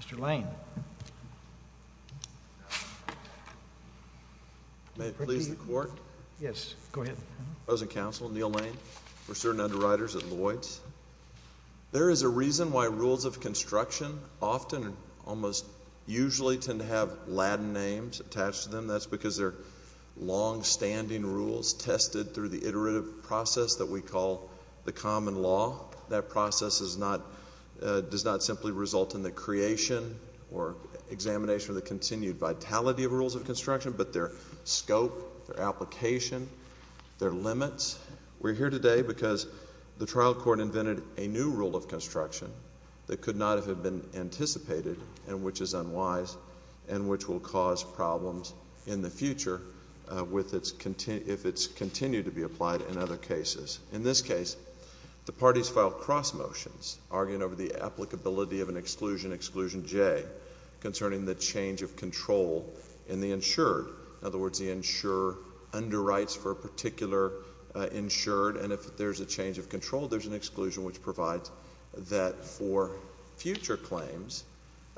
Mr. Lane May it please the Court? Yes, go ahead. President Counsel, Neil Lane. We're certain underwriters at Lloyds. There is a reason why rules of construction often, almost usually, tend to have Latin names attached to them. That's because they're long-standing rules tested through the iterative process that we call the common law. That process does not simply result in the creation or examination of the continued vitality of rules of construction, but their scope, their application, their limits. We're here today because the trial court invented a new rule of construction that could not have been anticipated and which is unwise and which will cause problems in the future if it's continued to be applied in other cases. In this case, the parties filed cross motions arguing over the applicability of an exclusion, exclusion J, concerning the change of control in the insured. In other words, the insurer underwrites for a particular insured, and if there's a change of control, there's an exclusion which provides that for future claims,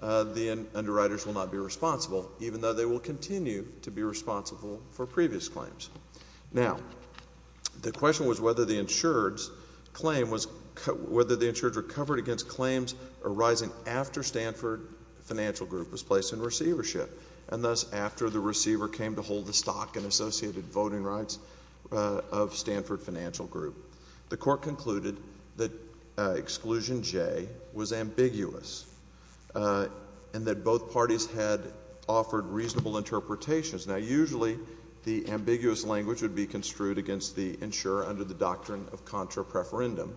the underwriters will not be responsible, even though they will continue to be responsible for previous claims. Now, the question was whether the insured's claim was, whether the insured's recovery against claims arising after Stanford Financial Group was placed in receivership, and thus after the receiver came to hold the stock and associated voting rights of Stanford Financial Group. The court concluded that exclusion J was ambiguous and that both parties had offered reasonable interpretations. Now, usually the ambiguous language would be construed against the insurer under the doctrine of contra preferendum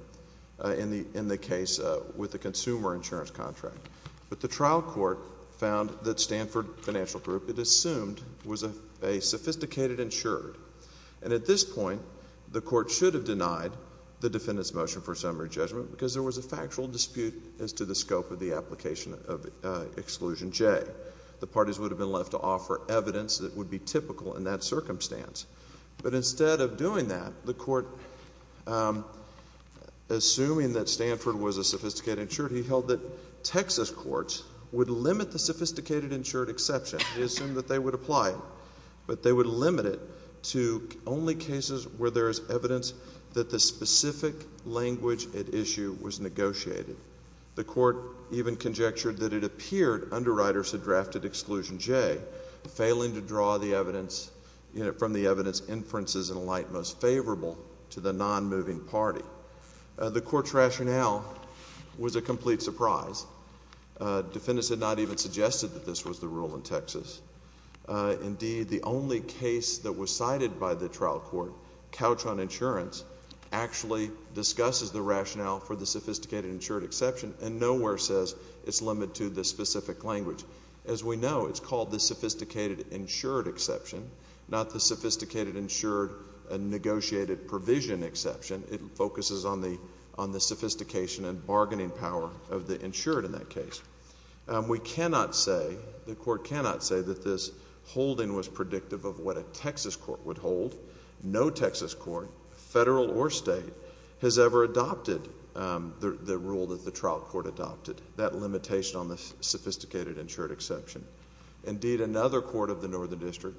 in the case with the consumer insurance contract. But the trial court found that Stanford Financial Group, it assumed, was a sophisticated insured. And at this point, the court should have denied the defendant's motion for summary judgment because there was a factual dispute as to the scope of the application of exclusion J. The parties would have been left to offer evidence that would be typical in that circumstance. But instead of doing that, the court, assuming that Stanford was a sophisticated insured, he held that Texas courts would limit the sophisticated insured exception. He assumed that they would apply it, but they would limit it to only cases where there is evidence that the specific language at issue was negotiated. The court even conjectured that it appeared underwriters had drafted exclusion J, failing to draw from the evidence inferences in a light most favorable to the nonmoving party. The court's rationale was a complete surprise. Defendants had not even suggested that this was the rule in Texas. Indeed, the only case that was cited by the trial court, couch on insurance, actually discusses the rationale for the sophisticated insured exception and nowhere says it's limited to the specific language. As we know, it's called the sophisticated insured exception, not the sophisticated insured negotiated provision exception. It focuses on the sophistication and bargaining power of the insured in that case. We cannot say, the court cannot say that this holding was predictive of what a Texas court would hold. No Texas court, federal or state, has ever adopted the rule that the trial court adopted, that limitation on the sophisticated insured exception. Indeed, another court of the Northern District,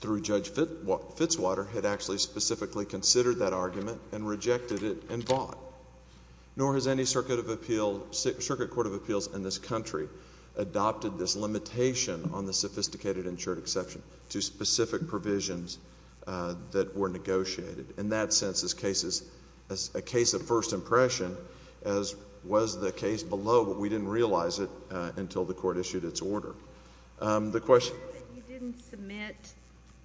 through Judge Fitzwater, had actually specifically considered that argument and rejected it and bought. Nor has any circuit court of appeals in this country adopted this limitation on the sophisticated insured exception to specific provisions that were negotiated. In that sense, this case is a case of first impression, as was the case below, but we didn't realize it until the court issued its order. The question? You didn't submit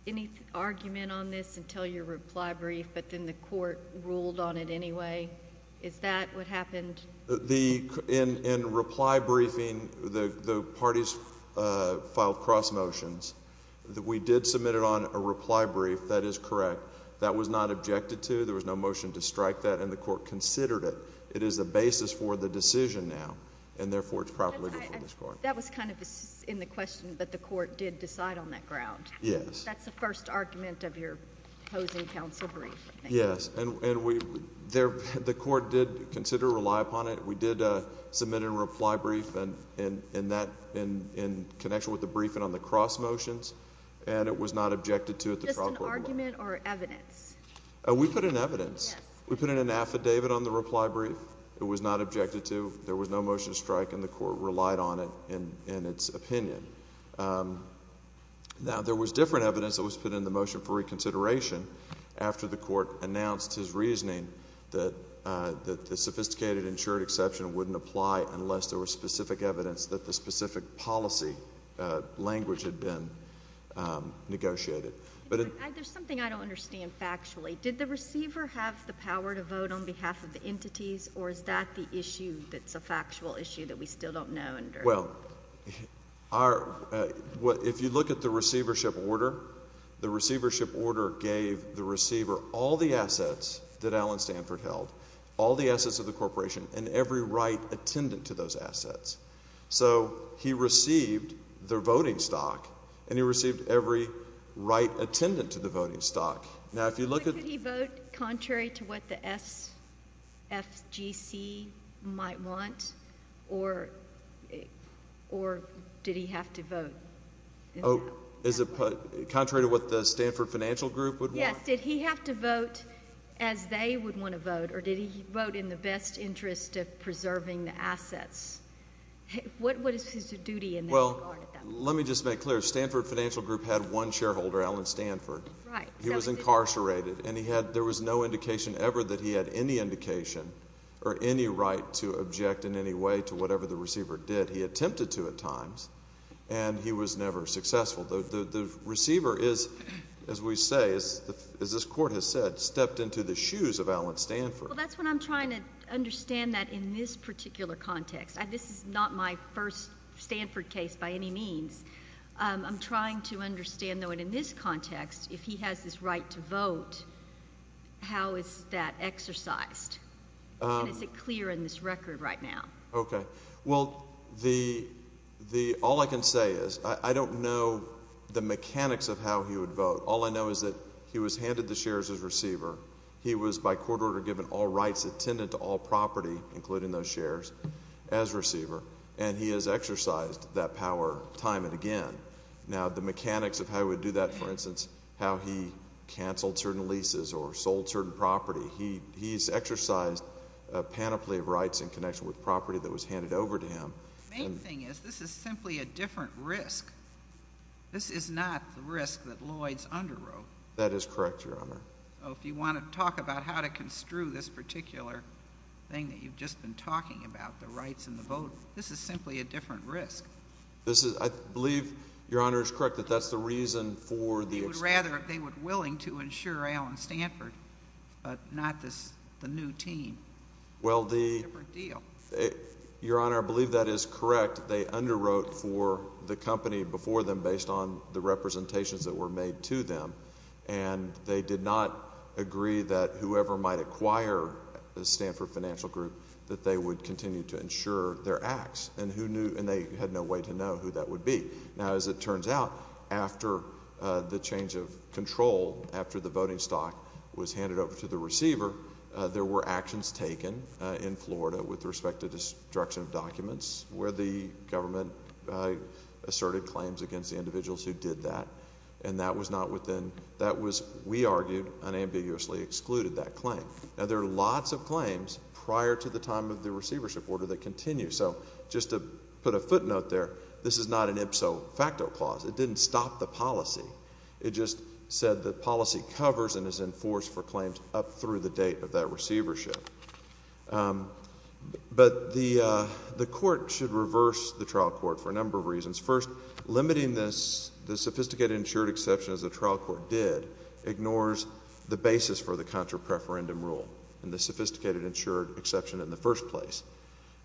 any argument on this until your reply brief, but then the court ruled on it anyway. Is that what happened? In reply briefing, the parties filed cross motions. We did submit it on a reply brief. That is correct. That was not objected to. There was no motion to strike that, and the court considered it. It is the basis for the decision now, and therefore it's properly before this court. That was kind of in the question, but the court did decide on that ground. Yes. That's the first argument of your opposing counsel brief. Yes. The court did consider, rely upon it. We did submit a reply brief in connection with the briefing on the cross motions, and it was not objected to at the trial court level. Just an argument or evidence? We put in evidence. Yes. We put in an affidavit on the reply brief. It was not objected to. There was no motion to strike, and the court relied on it in its opinion. Now, there was different evidence that was put in the motion for reconsideration after the court announced his reasoning that the sophisticated insured exception wouldn't apply unless there was specific evidence that the specific policy language had been negotiated. There's something I don't understand factually. Did the receiver have the power to vote on behalf of the entities, or is that the issue that's a factual issue that we still don't know? Well, if you look at the receivership order, the receivership order gave the receiver all the assets that Allen Stanford held, all the assets of the corporation, and every right attendant to those assets. So he received their voting stock, and he received every right attendant to the voting stock. Could he vote contrary to what the SFGC might want, or did he have to vote? Contrary to what the Stanford Financial Group would want? Yes. Did he have to vote as they would want to vote, or did he vote in the best interest of preserving the assets? What is his duty in that regard? Well, let me just make clear. Stanford Financial Group had one shareholder, Allen Stanford. Right. He was incarcerated, and there was no indication ever that he had any indication or any right to object in any way to whatever the receiver did. He attempted to at times, and he was never successful. The receiver is, as we say, as this Court has said, stepped into the shoes of Allen Stanford. Well, that's what I'm trying to understand that in this particular context. This is not my first Stanford case by any means. I'm trying to understand, though, in this context, if he has this right to vote, how is that exercised? And is it clear in this record right now? Okay. Well, all I can say is I don't know the mechanics of how he would vote. All I know is that he was handed the shares as receiver. He was by court order given all rights attendant to all property, including those shares, as receiver, and he has exercised that power time and again. Now, the mechanics of how he would do that, for instance, how he canceled certain leases or sold certain property, he's exercised a panoply of rights in connection with property that was handed over to him. The main thing is this is simply a different risk. This is not the risk that Lloyds underwrote. That is correct, Your Honor. So if you want to talk about how to construe this particular thing that you've just been talking about, the rights and the vote, this is simply a different risk. I believe, Your Honor, it's correct that that's the reason for the exception. They would rather if they were willing to insure Allen Stanford, but not the new team. Well, Your Honor, I believe that is correct. They underwrote for the company before them based on the representations that were made to them, and they did not agree that whoever might acquire the Stanford Financial Group that they would continue to insure their acts, and they had no way to know who that would be. Now, as it turns out, after the change of control, after the voting stock was handed over to the receiver, there were actions taken in Florida with respect to destruction of documents where the government asserted claims against the individuals who did that, and that was, we argued, unambiguously excluded that claim. Now, there are lots of claims prior to the time of the receivership order that continue. So just to put a footnote there, this is not an ipso facto clause. It didn't stop the policy. It just said the policy covers and is enforced for claims up through the date of that receivership. But the court should reverse the trial court for a number of reasons. First, limiting this sophisticated insured exception, as the trial court did, ignores the basis for the contra-preferendum rule and the sophisticated insured exception in the first place.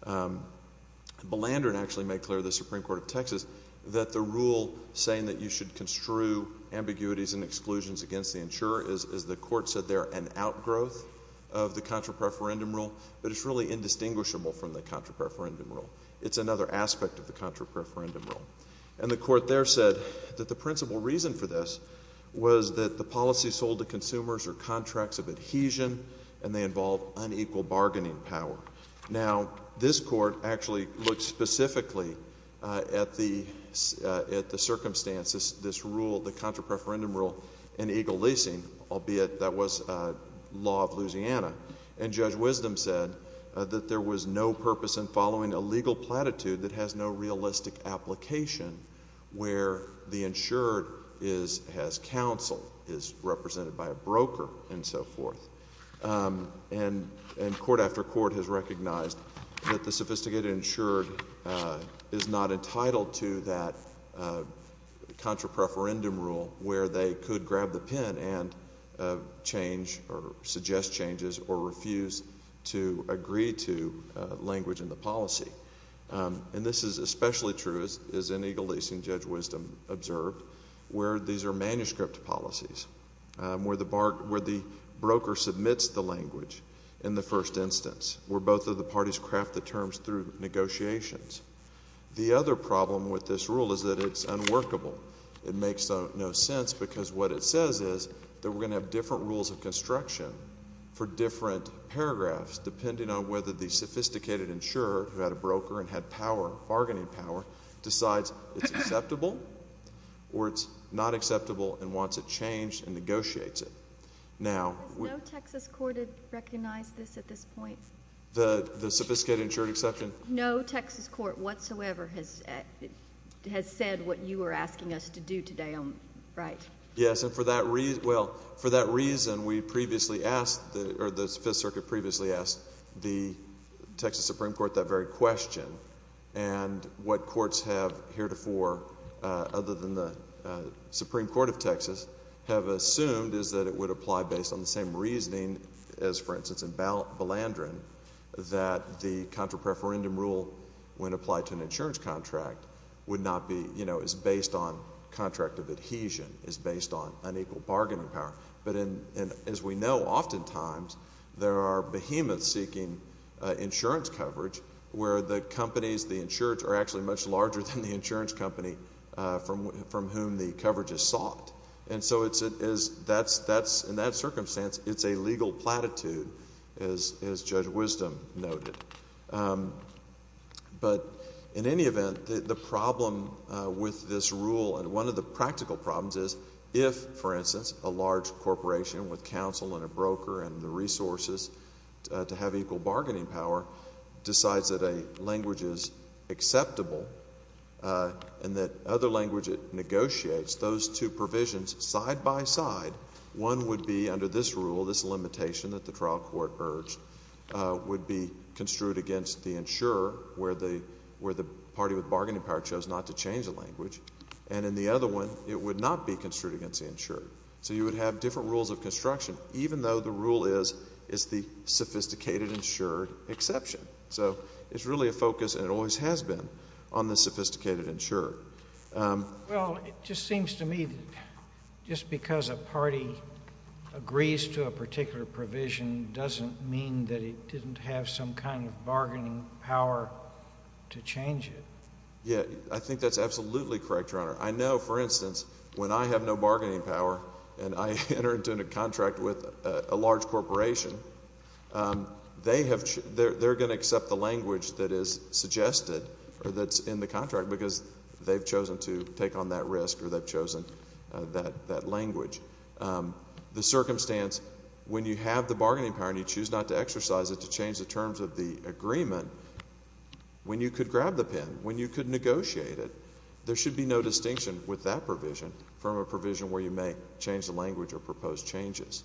Blandern actually made clear to the Supreme Court of Texas that the rule saying that you should construe ambiguities and exclusions against the insurer is, as the court said there, an outgrowth of the contra-preferendum rule, but it's really indistinguishable from the contra-preferendum rule. It's another aspect of the contra-preferendum rule. And the court there said that the principal reason for this was that the policy sold to consumers are contracts of adhesion and they involve unequal bargaining power. Now, this court actually looked specifically at the circumstances, this rule, the contra-preferendum rule in Eagle Leasing, albeit that was law of Louisiana. And Judge Wisdom said that there was no purpose in following a legal platitude that has no realistic application where the insured has counsel, is represented by a broker, and so forth. And court after court has recognized that the sophisticated insured is not entitled to that contra-preferendum rule where they could grab the pen and change or suggest changes or refuse to agree to language in the policy. And this is especially true, as in Eagle Leasing, Judge Wisdom observed, where these are manuscript policies, where the broker submits the language in the first instance, where both of the parties craft the terms through negotiations. The other problem with this rule is that it's unworkable. It makes no sense because what it says is that we're going to have different rules of construction for different paragraphs depending on whether the sophisticated insured, who had a broker and had bargaining power, decides it's acceptable or it's not acceptable and wants it changed and negotiates it. Does no Texas court recognize this at this point? The sophisticated insured exception? No Texas court whatsoever has said what you are asking us to do today, right? Yes, and for that reason we previously asked, or the Fifth Circuit previously asked the Texas Supreme Court that very question. And what courts have heretofore, other than the Supreme Court of Texas, have assumed is that it would apply based on the same reasoning as, for instance, in Balandron that the contra-preferendum rule, when applied to an insurance contract, is based on contract of adhesion, is based on unequal bargaining power. But as we know, oftentimes there are behemoths seeking insurance coverage where the companies, the insureds, are actually much larger than the insurance company from whom the coverage is sought. And so in that circumstance it's a legal platitude, as Judge Wisdom noted. But in any event, the problem with this rule, and one of the practical problems is if, for instance, a large corporation with counsel and a broker and the resources to have equal bargaining power decides that a language is acceptable and that other language negotiates those two provisions side by side, one would be under this rule, this limitation that the trial court urged, would be construed against the insurer, where the party with bargaining power chose not to change the language, and in the other one it would not be construed against the insured. So you would have different rules of construction, even though the rule is it's the sophisticated insured exception. So it's really a focus, and it always has been, on the sophisticated insured. Well, it just seems to me that just because a party agrees to a particular provision doesn't mean that it didn't have some kind of bargaining power to change it. Yeah, I think that's absolutely correct, Your Honor. I know, for instance, when I have no bargaining power and I enter into a contract with a large corporation, they're going to accept the language that is suggested or that's in the contract because they've chosen to take on that risk or they've chosen that language. The circumstance when you have the bargaining power and you choose not to exercise it to change the terms of the agreement, when you could grab the pen, when you could negotiate it, there should be no distinction with that provision from a provision where you may change the language or propose changes.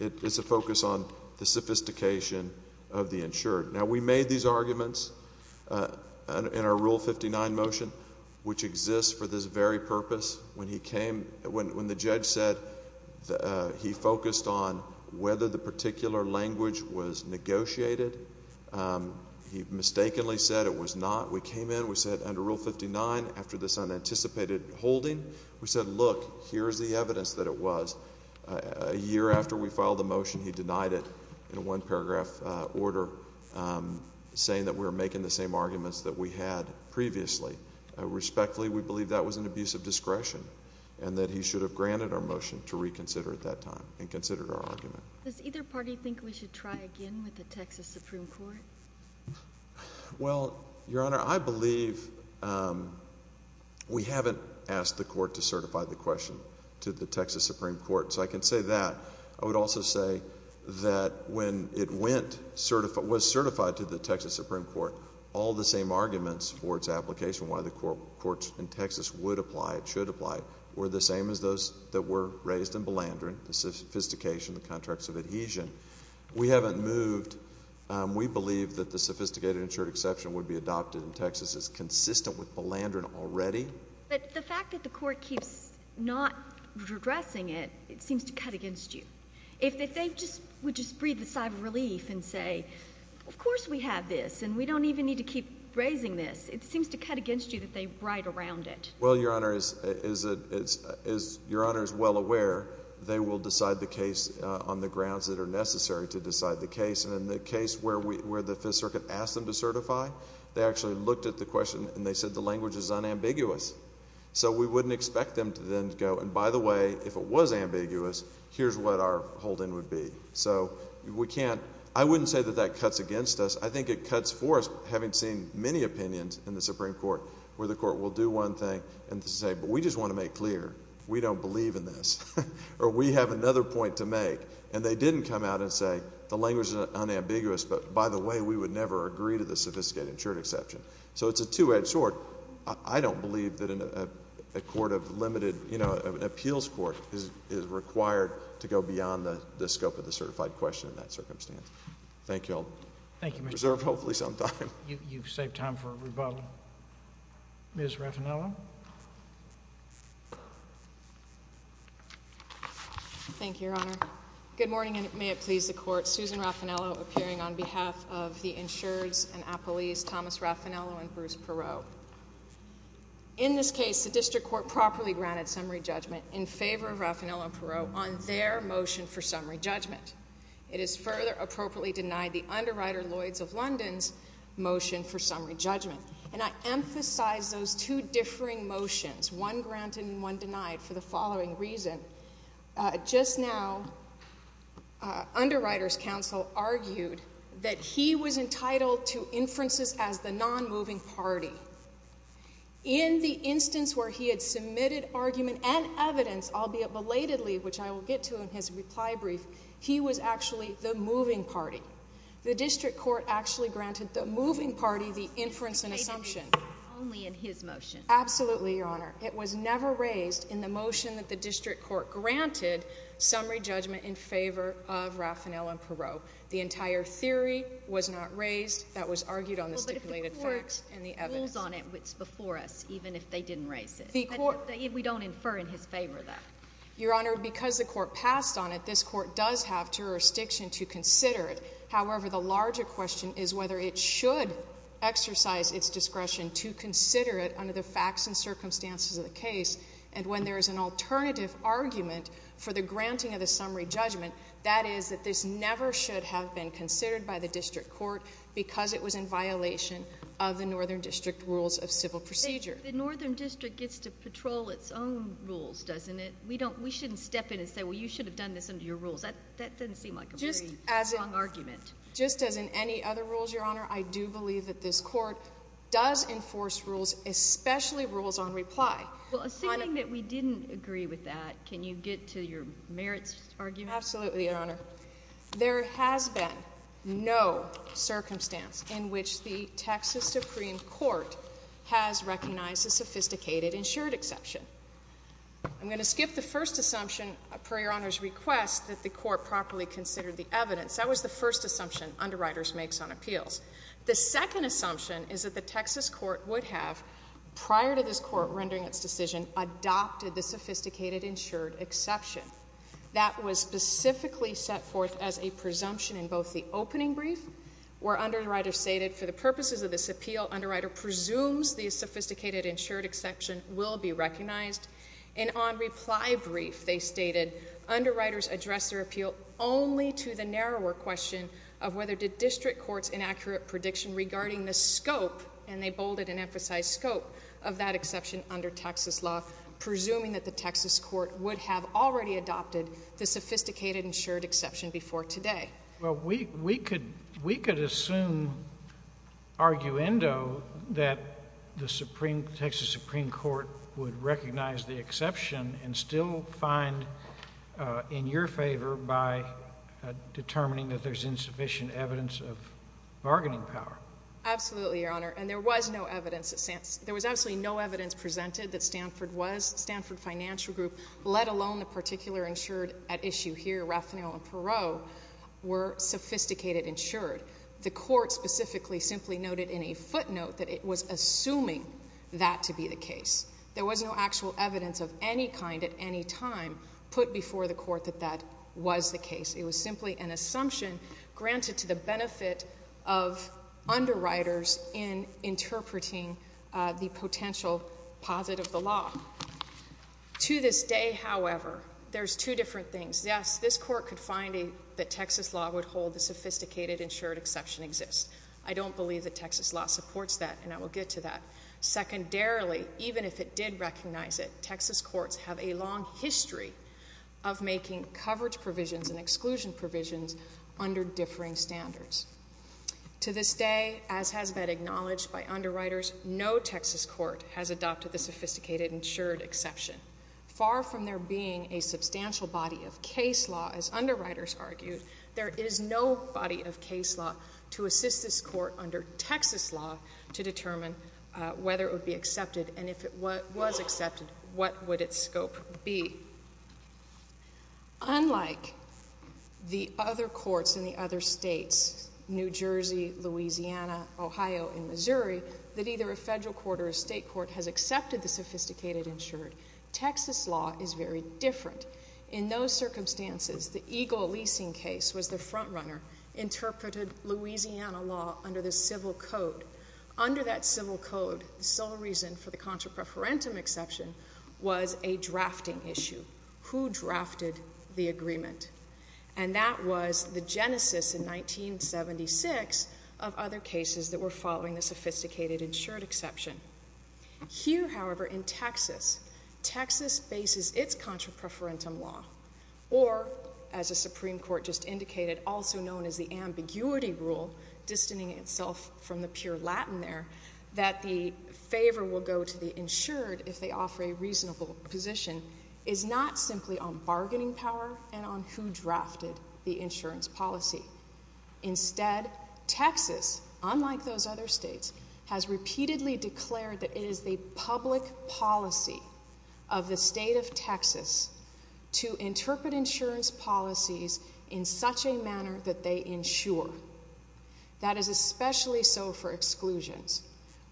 It's a focus on the sophistication of the insured. Now, we made these arguments in our Rule 59 motion, which exists for this very purpose. When the judge said he focused on whether the particular language was negotiated, he mistakenly said it was not. We came in, we said under Rule 59, after this unanticipated holding, we said, look, here's the evidence that it was. A year after we filed the motion, he denied it in a one-paragraph order, saying that we were making the same arguments that we had previously. Respectfully, we believe that was an abuse of discretion and that he should have granted our motion to reconsider at that time and consider our argument. Does either party think we should try again with the Texas Supreme Court? Well, Your Honor, I believe we haven't asked the court to certify the question to the Texas Supreme Court, so I can say that. I would also say that when it was certified to the Texas Supreme Court, all the same arguments for its application, why the courts in Texas would apply, should apply, were the same as those that were raised in Balandron, the sophistication, the contracts of adhesion. We haven't moved. We believe that the sophisticated insured exception would be adopted in Texas. It's consistent with Balandron already. But the fact that the court keeps not redressing it, it seems to cut against you. If they would just breathe a sigh of relief and say, of course we have this and we don't even need to keep raising this, it seems to cut against you that they ride around it. Well, Your Honor, as Your Honor is well aware, they will decide the case on the grounds that are necessary to decide the case. And in the case where the Fifth Circuit asked them to certify, they actually looked at the question and they said the language is unambiguous. So we wouldn't expect them to then go, and by the way, if it was ambiguous, here's what our hold-in would be. So we can't – I wouldn't say that that cuts against us. I think it cuts for us, having seen many opinions in the Supreme Court, where the court will do one thing and say, but we just want to make clear we don't believe in this, or we have another point to make. And they didn't come out and say the language is unambiguous, but by the way, we would never agree to the sophisticated insured exception. So it's a two-edged sword. I don't believe that a court of limited – you know, an appeals court is required to go beyond the scope of the certified question in that circumstance. Thank you all. Thank you, Mr. Chief. Reserve, hopefully, some time. You've saved time for a rebuttal. Ms. Raffanello. Thank you, Your Honor. Good morning, and may it please the Court. Susan Raffanello appearing on behalf of the insureds and appellees, Thomas Raffanello and Bruce Perot. In this case, the district court properly granted summary judgment in favor of Raffanello and Perot on their motion for summary judgment. It is further appropriately denied the underwriter, Lloyds of London's, motion for summary judgment. And I emphasize those two differing motions, one granted and one denied for the following reason. Just now, underwriter's counsel argued that he was entitled to inferences as the non-moving party. In the instance where he had submitted argument and evidence, albeit belatedly, which I will get to in his reply brief, he was actually the moving party. The district court actually granted the moving party the inference and assumption. Only in his motion. Absolutely, Your Honor. It was never raised in the motion that the district court granted summary judgment in favor of Raffanello and Perot. The entire theory was not raised. That was argued on the stipulated facts and the evidence. Well, but if the court rules on it, it's before us, even if they didn't raise it. We don't infer in his favor that. Your Honor, because the court passed on it, this court does have jurisdiction to consider it. However, the larger question is whether it should exercise its discretion to consider it under the facts and circumstances of the case. And when there is an alternative argument for the granting of the summary judgment, that is that this never should have been considered by the district court because it was in violation of the Northern District Rules of Civil Procedure. The Northern District gets to patrol its own rules, doesn't it? We shouldn't step in and say, well, you should have done this under your rules. That doesn't seem like a very strong argument. Just as in any other rules, Your Honor, I do believe that this court does enforce rules, especially rules on reply. Well, assuming that we didn't agree with that, can you get to your merits argument? Absolutely, Your Honor. There has been no circumstance in which the Texas Supreme Court has recognized a sophisticated insured exception. I'm going to skip the first assumption, per Your Honor's request that the court properly considered the evidence. That was the first assumption underwriters make on appeals. The second assumption is that the Texas court would have, prior to this court rendering its decision, adopted the sophisticated insured exception. That was specifically set forth as a presumption in both the opening brief, where underwriters stated, for the purposes of this appeal, underwriter presumes the sophisticated insured exception will be recognized, and on reply brief, they stated, underwriters address their appeal only to the narrower question of whether the district court's inaccurate prediction regarding the scope, and they bolded and emphasized scope, of that exception under Texas law, presuming that the Texas court would have already adopted the sophisticated insured exception before today. Well, we could assume, arguendo, that the Texas Supreme Court would recognize the exception and still find in your favor by determining that there's insufficient evidence of bargaining power. Absolutely, Your Honor, and there was no evidence. There was absolutely no evidence presented that Stanford was, Stanford Financial Group, let alone the particular insured at issue here, Rathenel and Perot, were sophisticated insured. The court specifically simply noted in a footnote that it was assuming that to be the case. There was no actual evidence of any kind at any time put before the court that that was the case. It was simply an assumption granted to the benefit of underwriters in interpreting the potential posit of the law. To this day, however, there's two different things. Yes, this court could find that Texas law would hold the sophisticated insured exception exists. I don't believe that Texas law supports that, and I will get to that. Secondarily, even if it did recognize it, Texas courts have a long history of making coverage provisions and exclusion provisions under differing standards. To this day, as has been acknowledged by underwriters, no Texas court has adopted the sophisticated insured exception. Far from there being a substantial body of case law, as underwriters argued, there is no body of case law to assist this court under Texas law to determine whether it would be accepted, and if it was accepted, what would its scope be? Unlike the other courts in the other states, New Jersey, Louisiana, Ohio, and Missouri, that either a federal court or a state court has accepted the sophisticated insured, Texas law is very different. In those circumstances, the Eagle leasing case was the frontrunner, interpreted Louisiana law under the civil code. Under that civil code, the sole reason for the contra preferentum exception was a drafting issue. Who drafted the agreement? And that was the genesis in 1976 of other cases that were following the sophisticated insured exception. Here, however, in Texas, Texas bases its contra preferentum law, or, as the Supreme Court just indicated, also known as the ambiguity rule, distancing itself from the pure Latin there, that the favor will go to the insured if they offer a reasonable position, is not simply on bargaining power and on who drafted the insurance policy. Instead, Texas, unlike those other states, has repeatedly declared that it is the public policy of the state of Texas to interpret insurance policies in such a manner that they insure. That is especially so for exclusions,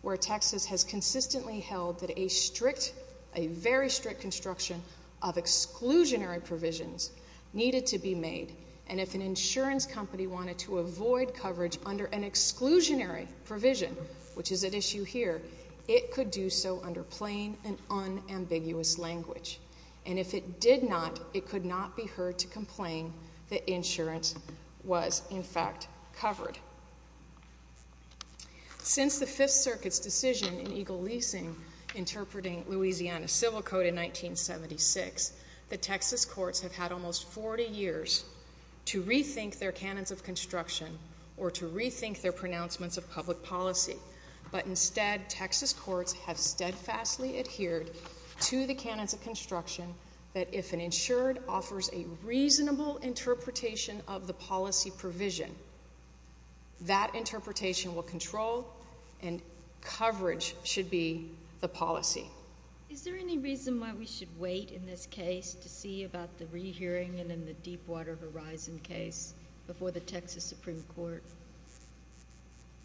where Texas has consistently held that a strict, a very strict construction of exclusionary provisions needed to be made, and if an insurance company wanted to avoid coverage under an exclusionary provision, which is at issue here, it could do so under plain and unambiguous language. And if it did not, it could not be heard to complain that insurance was, in fact, covered. Since the Fifth Circuit's decision in Eagle Leasing interpreting Louisiana civil code in 1976, the Texas courts have had almost 40 years to rethink their canons of construction or to rethink their pronouncements of public policy, but instead, Texas courts have steadfastly adhered to the canons of construction that if an insured offers a reasonable interpretation of the policy provision, that interpretation will control and coverage should be the policy. Is there any reason why we should wait in this case to see about the rehearing and then the Deepwater Horizon case before the Texas Supreme Court?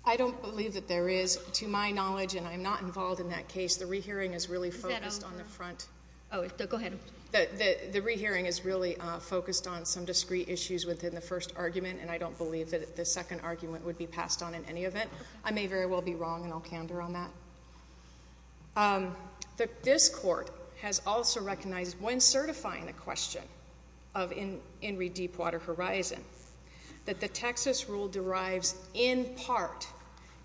I don't believe that there is. To my knowledge, and I'm not involved in that case, the rehearing is really focused on the front. Oh, go ahead. The rehearing is really focused on some discrete issues within the first argument, and I don't believe that the second argument would be passed on in any event. I may very well be wrong, and I'll candor on that. This court has also recognized, when certifying the question of In re Deepwater Horizon, that the Texas rule derives in part,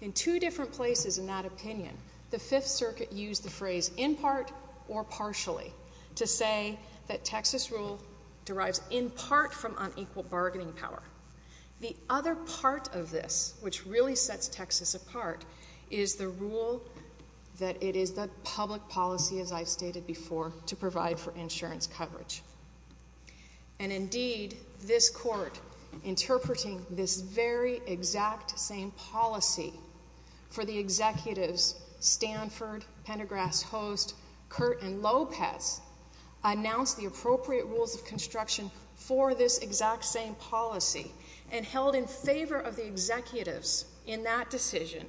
in two different places in that opinion, the Fifth Circuit used the phrase in part or partially to say that Texas rule derives in part from unequal bargaining power. The other part of this, which really sets Texas apart, is the rule that it is the public policy, as I've stated before, to provide for insurance coverage. And indeed, this court, interpreting this very exact same policy for the executives, Stanford, Pendergrass Host, Curt, and Lopez, announced the appropriate rules of construction for this exact same policy and held in favor of the executives in that decision,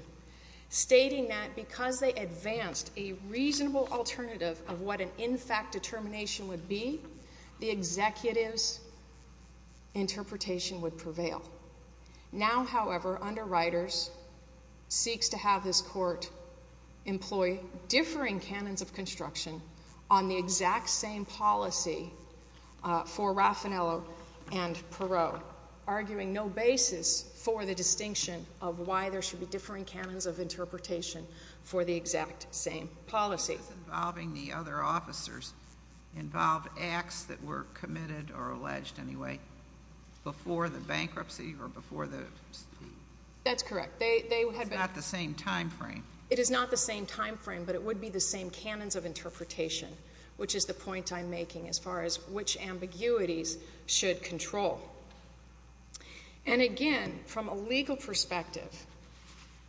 stating that because they advanced a reasonable alternative of what an in-fact determination would be, the executives' interpretation would prevail. Now, however, under Reuters, seeks to have this court employ differing canons of construction on the exact same policy for Raffanello and Perot, arguing no basis for the distinction of why there should be differing canons of interpretation for the exact same policy. ...involving the other officers involved acts that were committed, or alleged, anyway, before the bankruptcy or before the... That's correct. They had been... It's not the same time frame. It is not the same time frame, but it would be the same canons of interpretation, which is the point I'm making as far as which ambiguities should control. And again, from a legal perspective,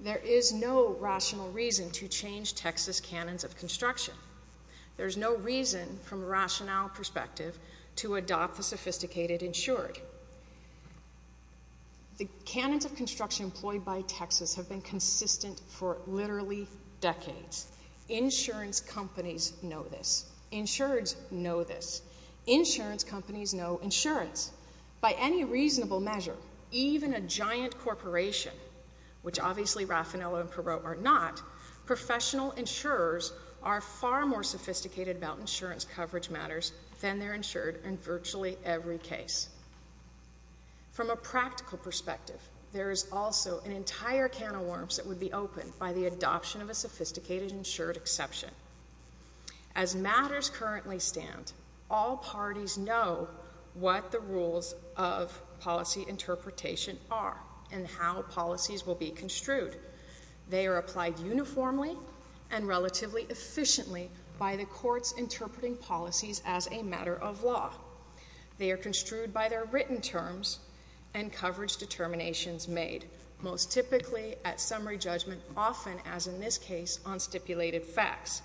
there is no rational reason to change Texas canons of construction. There's no reason, from a rationale perspective, to adopt the sophisticated insured. The canons of construction employed by Texas have been consistent for literally decades. Insurance companies know this. Insureds know this. Insurance companies know insurance. By any reasonable measure, even a giant corporation, which obviously Raffanello and Perot are not, professional insurers are far more sophisticated about insurance coverage matters than they're insured in virtually every case. From a practical perspective, there is also an entire can of worms that would be opened by the adoption of a sophisticated insured exception. As matters currently stand, all parties know what the rules of policy interpretation are and how policies will be construed. They are applied uniformly and relatively efficiently by the courts interpreting policies as a matter of law. They are construed by their written terms and coverage determinations made, most typically at summary judgment, often, as in this case, on stipulated facts.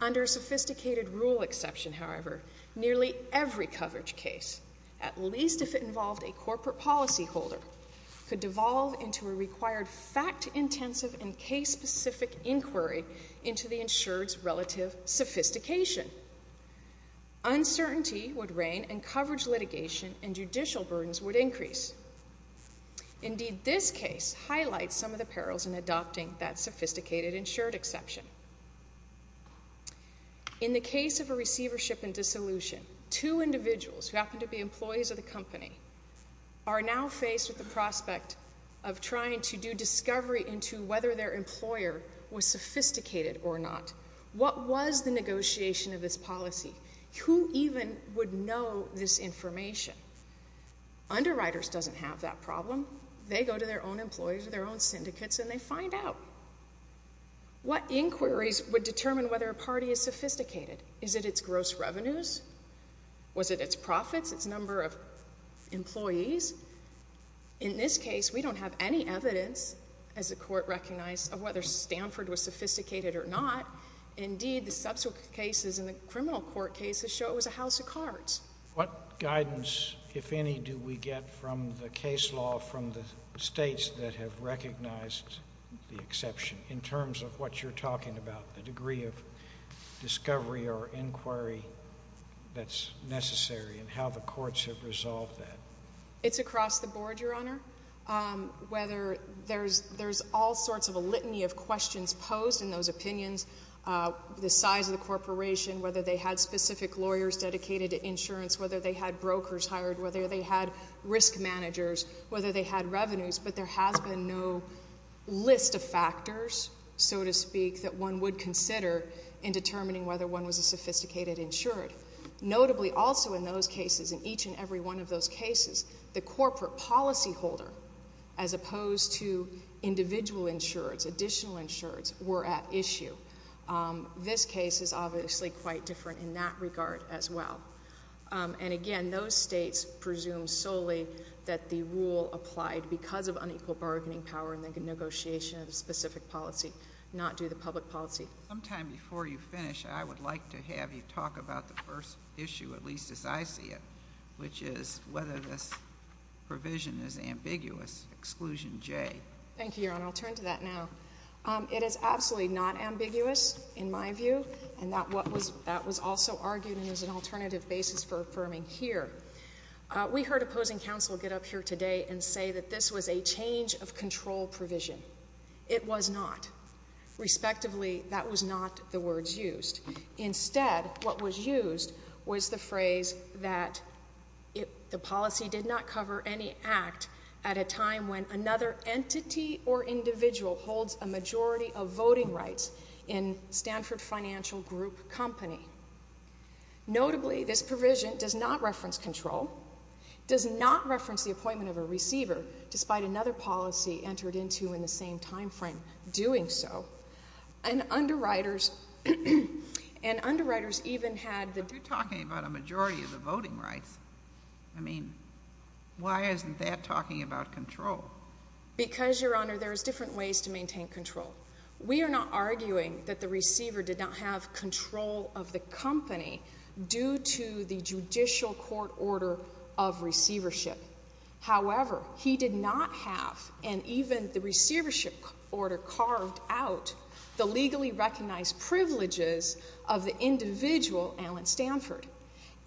Under a sophisticated rule exception, however, nearly every coverage case, at least if it involved a corporate policyholder, could devolve into a required fact-intensive and case-specific inquiry into the insured's relative sophistication. Uncertainty would reign, and coverage litigation and judicial burdens would increase. Indeed, this case highlights some of the perils in adopting that sophisticated insured exception. In the case of a receivership and dissolution, two individuals, who happen to be employees of the company, are now faced with the prospect of trying to do discovery into whether their employer was sophisticated or not. What was the negotiation of this policy? Who even would know this information? Underwriters doesn't have that problem. They go to their own employers or their own syndicates, and they find out. What inquiries would determine whether a party is sophisticated? Is it its gross revenues? Was it its profits, its number of employees? In this case, we don't have any evidence, as the court recognized, of whether Stanford was sophisticated or not. Indeed, the subsequent cases in the criminal court cases show it was a house of cards. What guidance, if any, do we get from the case law from the states that have recognized the exception in terms of what you're talking about, the degree of discovery or inquiry that's necessary, and how the courts have resolved that? It's across the board, Your Honor. Whether there's all sorts of a litany of questions posed in those opinions, the size of the corporation, whether they had specific lawyers dedicated to insurance, whether they had brokers hired, whether they had risk managers, whether they had revenues, but there has been no list of factors, so to speak, that one would consider in determining whether one was a sophisticated insured. Notably, also in those cases, in each and every one of those cases, the corporate policyholder, as opposed to individual insureds, additional insureds, were at issue. This case is obviously quite different in that regard as well. And again, those states presume solely that the rule applied because of unequal bargaining power and the negotiation of a specific policy and not due to public policy. Sometime before you finish, I would like to have you talk about the first issue, at least as I see it, which is whether this provision is ambiguous, exclusion J. Thank you, Your Honor. I'll turn to that now. It is absolutely not ambiguous, in my view, and that was also argued and is an alternative basis for affirming here. We heard opposing counsel get up here today and say that this was a change of control provision. It was not. Respectively, that was not the words used. Instead, what was used was the phrase that the policy did not cover any act at a time when another entity or individual holds a majority of voting rights in Stanford Financial Group Company. Notably, this provision does not reference control, does not reference the appointment of a receiver, despite another policy entered into in the same time frame doing so. And underwriters even had the... But you're talking about a majority of the voting rights. I mean, why isn't that talking about control? Because, Your Honor, there's different ways to maintain control. We are not arguing that the receiver did not have control of the company due to the judicial court order of receivership. However, he did not have, and even the receivership order carved out, the legally recognized privileges of the individual, Alan Stanford.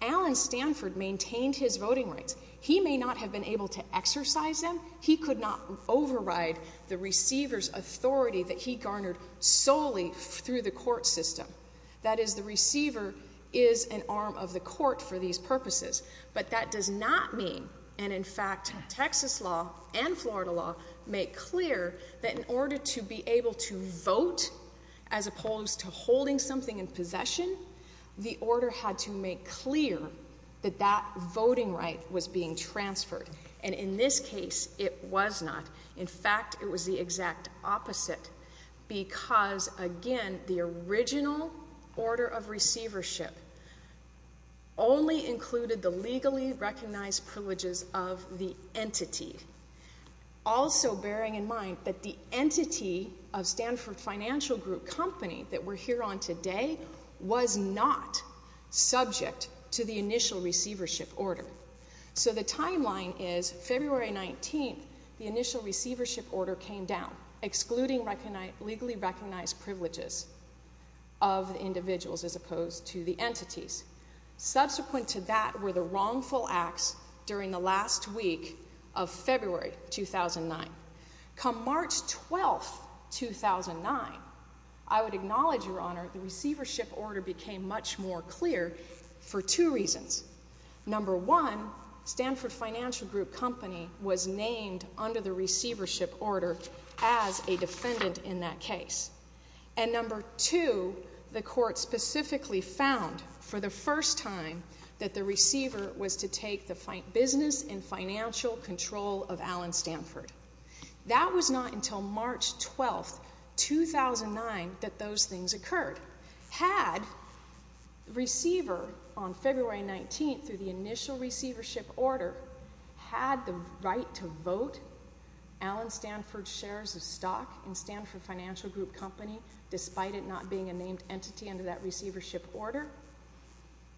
Alan Stanford maintained his voting rights. He may not have been able to exercise them. He could not override the receiver's authority that he garnered solely through the court system. That is, the receiver is an arm of the court for these purposes. But that does not mean, and in fact, Texas law and Florida law make clear that in order to be able to vote, as opposed to holding something in possession, the order had to make clear that that voting right was being transferred. And in this case, it was not. In fact, it was the exact opposite, because, again, the original order of receivership only included the legally recognized privileges of the entity, also bearing in mind that the entity of Stanford Financial Group Company that we're here on today was not subject to the initial receivership order. So the timeline is February 19th. The initial receivership order came down, excluding legally recognized privileges of individuals as opposed to the entities. Subsequent to that were the wrongful acts during the last week of February 2009. Come March 12th, 2009, I would acknowledge, Your Honor, the receivership order became much more clear for two reasons. Number one, Stanford Financial Group Company was named under the receivership order as a defendant in that case. And number two, the court specifically found, for the first time, that the receiver was to take the business and financial control of Allen Stanford. That was not until March 12th, 2009, that those things occurred. Had the receiver, on February 19th, through the initial receivership order, had the right to vote, Allen Stanford shares of stock in Stanford Financial Group Company, despite it not being a named entity under that receivership order,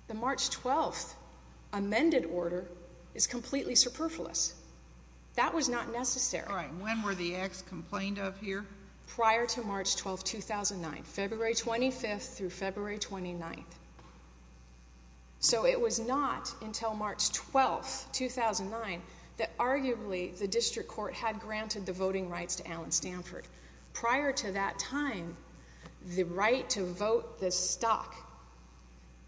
the March 12th amended order is completely superfluous. That was not necessary. All right. When were the acts complained of here? Prior to March 12th, 2009, February 25th through February 29th. So it was not until March 12th, 2009, that arguably the district court had granted the voting rights to Allen Stanford. Prior to that time, the right to vote the stock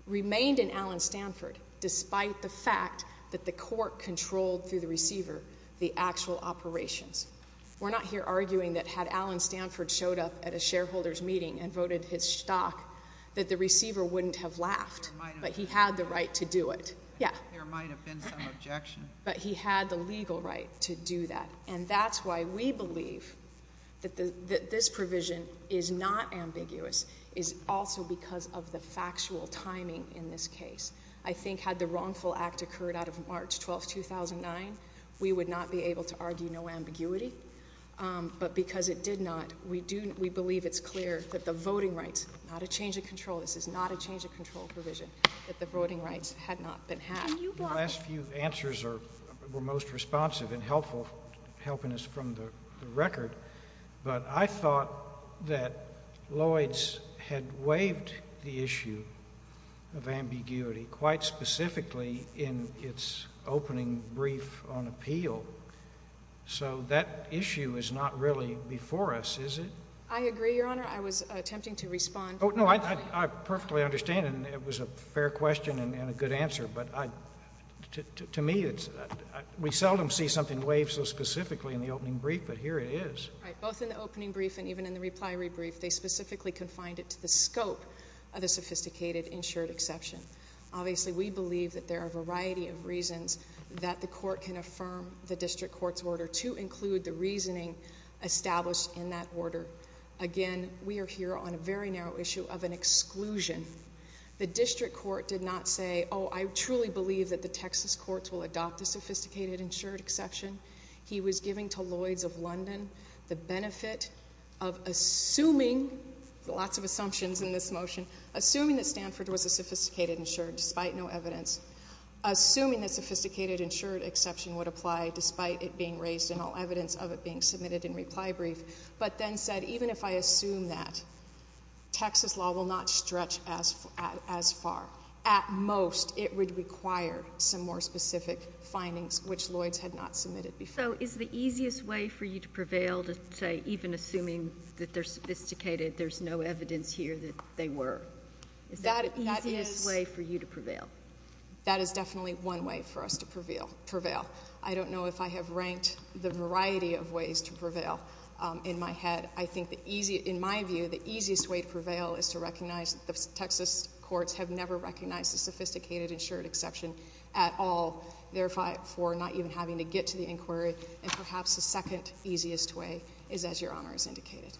remained in Allen Stanford, despite the fact that the court controlled, through the receiver, the actual operations. We're not here arguing that had Allen Stanford showed up at a shareholders meeting and voted his stock, that the receiver wouldn't have laughed, but he had the right to do it. There might have been some objection. But he had the legal right to do that. And that's why we believe that this provision is not ambiguous. It's also because of the factual timing in this case. I think had the wrongful act occurred out of March 12th, 2009, we would not be able to argue no ambiguity. But because it did not, we believe it's clear that the voting rights, not a change of control, this is not a change of control provision, that the voting rights had not been had. The last few answers were most responsive and helpful, helping us from the record. But I thought that Lloyd's had waived the issue of ambiguity, quite specifically in its opening brief on appeal. So that issue is not really before us, is it? I was attempting to respond. Oh, no, I perfectly understand. It was a fair question and a good answer. But to me, we seldom see something waived so specifically in the opening brief, but here it is. Right. Both in the opening brief and even in the reply rebrief, they specifically confined it to the scope of the sophisticated insured exception. Obviously, we believe that there are a variety of reasons that the court can affirm the district court's order to include the reasoning established in that order. Again, we are here on a very narrow issue of an exclusion. The district court did not say, oh, I truly believe that the Texas courts will adopt the sophisticated insured exception. He was giving to Lloyd's of London the benefit of assuming, lots of assumptions in this motion, assuming that Stanford was a sophisticated insured despite no evidence, assuming that sophisticated insured exception would apply despite it being raised in all evidence of it being submitted in reply brief, but then said, even if I assume that, Texas law will not stretch as far. At most, it would require some more specific findings, which Lloyd's had not submitted before. So is the easiest way for you to prevail to say, even assuming that they're sophisticated, there's no evidence here that they were? Is that the easiest way for you to prevail? That is definitely one way for us to prevail. I don't know if I have ranked the variety of ways to prevail. In my head, I think in my view, the easiest way to prevail is to recognize that the Texas courts have never recognized the sophisticated insured exception at all, therefore not even having to get to the inquiry. And perhaps the second easiest way is as Your Honor has indicated.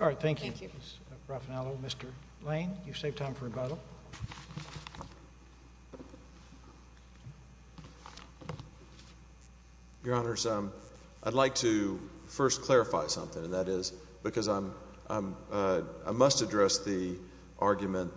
All right. Thank you. Thank you. Ms. Raffanello, Mr. Lane, you've saved time for rebuttal. Your Honors, I'd like to first clarify something, and that is because I must address the argument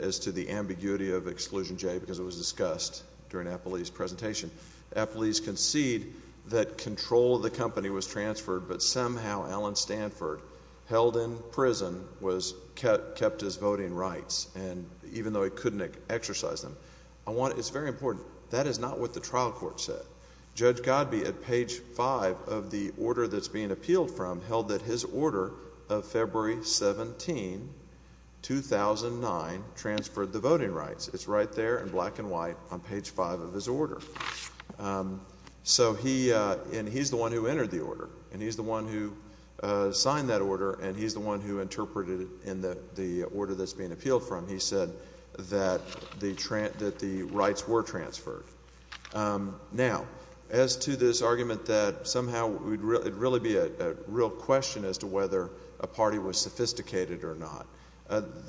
as to the ambiguity of Exclusion J because it was discussed during Appley's presentation. Appley's concede that control of the company was transferred, but somehow Allen Stanford, held in prison, was kept his voting rights. Even though he couldn't exercise them. It's very important. That is not what the trial court said. Judge Godby, at page five of the order that's being appealed from, held that his order of February 17, 2009, transferred the voting rights. It's right there in black and white on page five of his order. And he's the one who entered the order, and he's the one who signed that order, and he's the one who interpreted it in the order that's being appealed from. He said that the rights were transferred. Now, as to this argument that somehow it would really be a real question as to whether a party was sophisticated or not,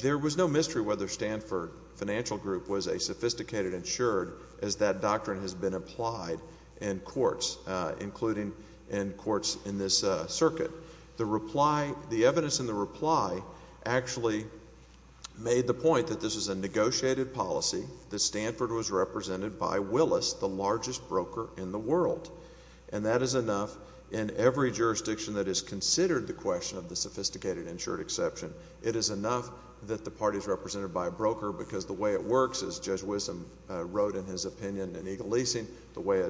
there was no mystery whether Stanford Financial Group was a sophisticated insured as that doctrine has been applied in courts, including in courts in this circuit. The reply, the evidence in the reply, actually made the point that this is a negotiated policy, that Stanford was represented by Willis, the largest broker in the world. And that is enough in every jurisdiction that has considered the question of the sophisticated insured exception. It is enough that the party is represented by a broker because the way it works, as Judge Wisdom wrote in his opinion in Eagle Leasing, the way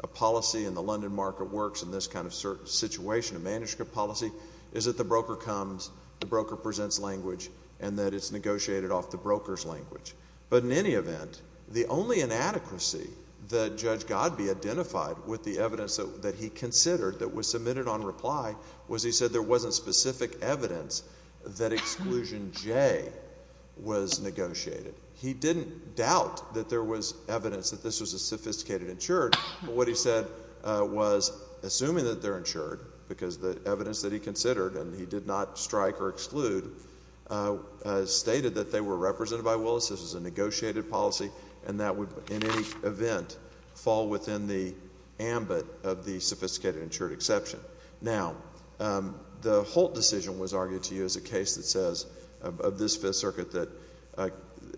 a policy in the London market works in this kind of situation, a manuscript policy, is that the broker comes, the broker presents language, and that it's negotiated off the broker's language. But in any event, the only inadequacy that Judge Godby identified with the evidence that he considered that was submitted on reply was he said there wasn't specific evidence that exclusion J was negotiated. He didn't doubt that there was evidence that this was a sophisticated insured, but what he said was, assuming that they're insured, because the evidence that he considered, and he did not strike or exclude, stated that they were represented by Willis, this was a negotiated policy, and that would, in any event, fall within the ambit of the sophisticated insured exception. Now, the Holt decision was argued to you as a case that says, of this Fifth Circuit, that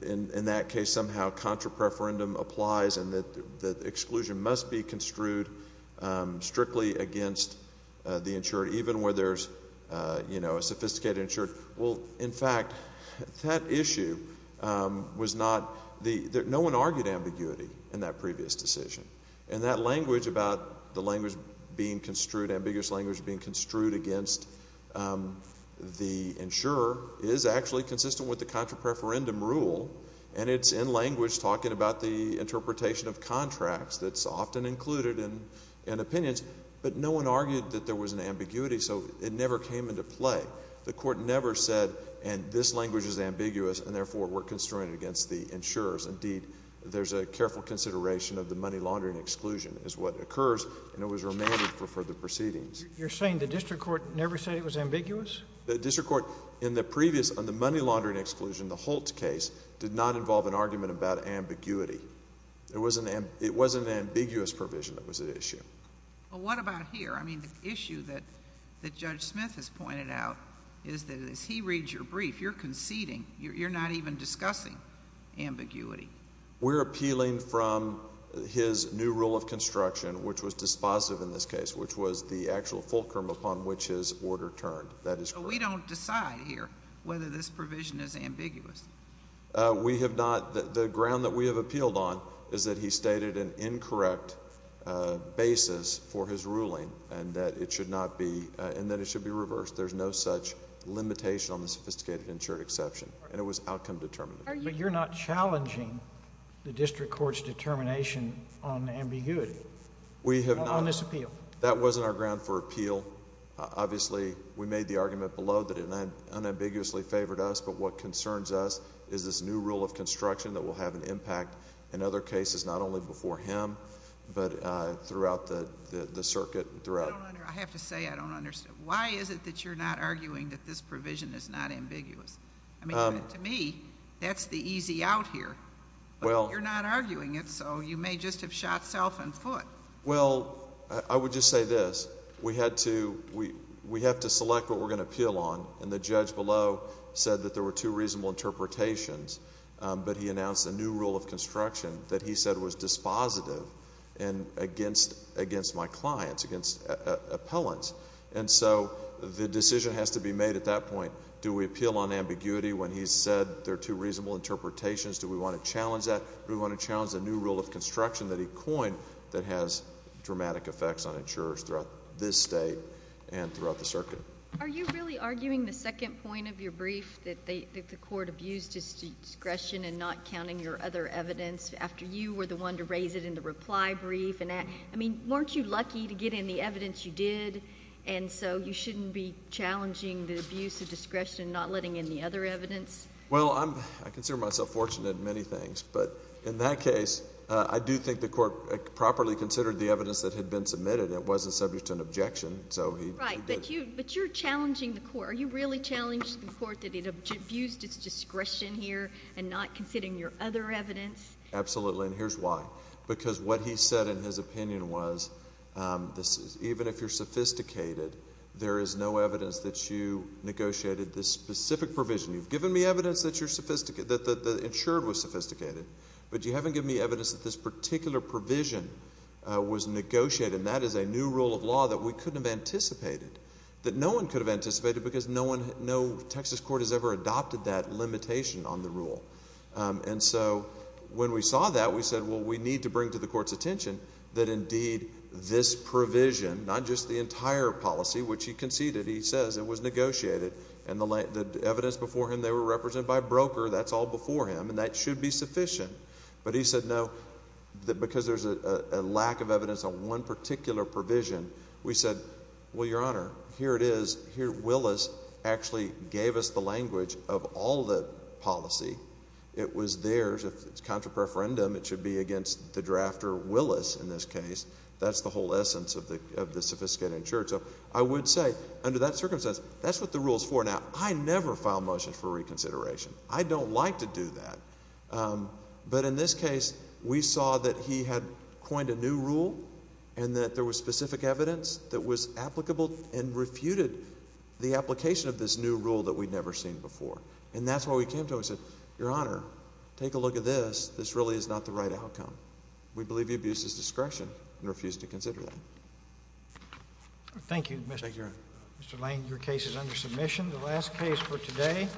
in that case somehow contra preferendum applies and that exclusion must be construed strictly against the insured, even where there's, you know, a sophisticated insured. Well, in fact, that issue was not, no one argued ambiguity in that previous decision, and that language about the language being construed, ambiguous language being construed against the insurer is actually consistent with the contra preferendum rule, and it's in language talking about the interpretation of contracts that's often included in opinions, but no one argued that there was an ambiguity, so it never came into play. The court never said, and this language is ambiguous, and therefore we're construing it against the insurers. Indeed, there's a careful consideration of the money laundering exclusion is what occurs, and it was remanded for further proceedings. You're saying the district court never said it was ambiguous? The district court in the previous, on the money laundering exclusion, the Holt case, did not involve an argument about ambiguity. It was an ambiguous provision that was at issue. Well, what about here? I mean, the issue that Judge Smith has pointed out is that as he reads your brief, you're conceding. You're not even discussing ambiguity. We're appealing from his new rule of construction, which was dispositive in this case, which was the actual fulcrum upon which his order turned. That is correct. So we don't decide here whether this provision is ambiguous. We have not. The ground that we have appealed on is that he stated an incorrect basis for his ruling, and that it should not be, and that it should be reversed. There's no such limitation on the sophisticated insured exception, and it was outcome determinative. But you're not challenging the district court's determination on ambiguity on this appeal? We have not. That wasn't our ground for appeal. Obviously, we made the argument below that it unambiguously favored us, but what concerns us is this new rule of construction that will have an impact in other cases, not only before him but throughout the circuit. I have to say I don't understand. Why is it that you're not arguing that this provision is not ambiguous? I mean, to me, that's the easy out here. But you're not arguing it, so you may just have shot self in foot. Well, I would just say this. We have to select what we're going to appeal on, and the judge below said that there were two reasonable interpretations, but he announced a new rule of construction that he said was dispositive against my clients, against appellants. And so the decision has to be made at that point. Do we appeal on ambiguity when he said there are two reasonable interpretations? Do we want to challenge that? Do we want to challenge the new rule of construction that he coined that has dramatic effects on insurers throughout this state and throughout the circuit? Are you really arguing the second point of your brief, that the court abused its discretion in not counting your other evidence after you were the one to raise it in the reply brief? I mean, weren't you lucky to get in the evidence you did, and so you shouldn't be challenging the abuse of discretion, not letting in the other evidence? Well, I consider myself fortunate in many things, but in that case I do think the court properly considered the evidence that had been submitted. It wasn't subject to an objection, so he did. Right, but you're challenging the court. Are you really challenging the court that it abused its discretion here and not considering your other evidence? Absolutely, and here's why. Because what he said in his opinion was even if you're sophisticated, there is no evidence that you negotiated this specific provision. You've given me evidence that the insured was sophisticated, but you haven't given me evidence that this particular provision was negotiated, and that is a new rule of law that we couldn't have anticipated, that no one could have anticipated because no Texas court has ever adopted that limitation on the rule. And so when we saw that, we said, well, we need to bring to the court's attention that indeed this provision, not just the entire policy which he conceded, he says it was negotiated, and the evidence before him they were represented by a broker. That's all before him, and that should be sufficient. But he said no, because there's a lack of evidence on one particular provision. We said, well, Your Honor, here it is. Here Willis actually gave us the language of all the policy. It was theirs. If it's contra preferendum, it should be against the drafter Willis in this case. That's the whole essence of the sophisticated insured. So I would say under that circumstance, that's what the rule is for. Now, I never file motions for reconsideration. I don't like to do that. But in this case, we saw that he had coined a new rule and that there was specific evidence that was applicable and refuted the application of this new rule that we'd never seen before. And that's why we came to him and said, Your Honor, take a look at this. This really is not the right outcome. We believe the abuse is discretion and refuse to consider that. Thank you, Mr. Lane. Your case is under submission. The last case for today, Johnson v. Williams.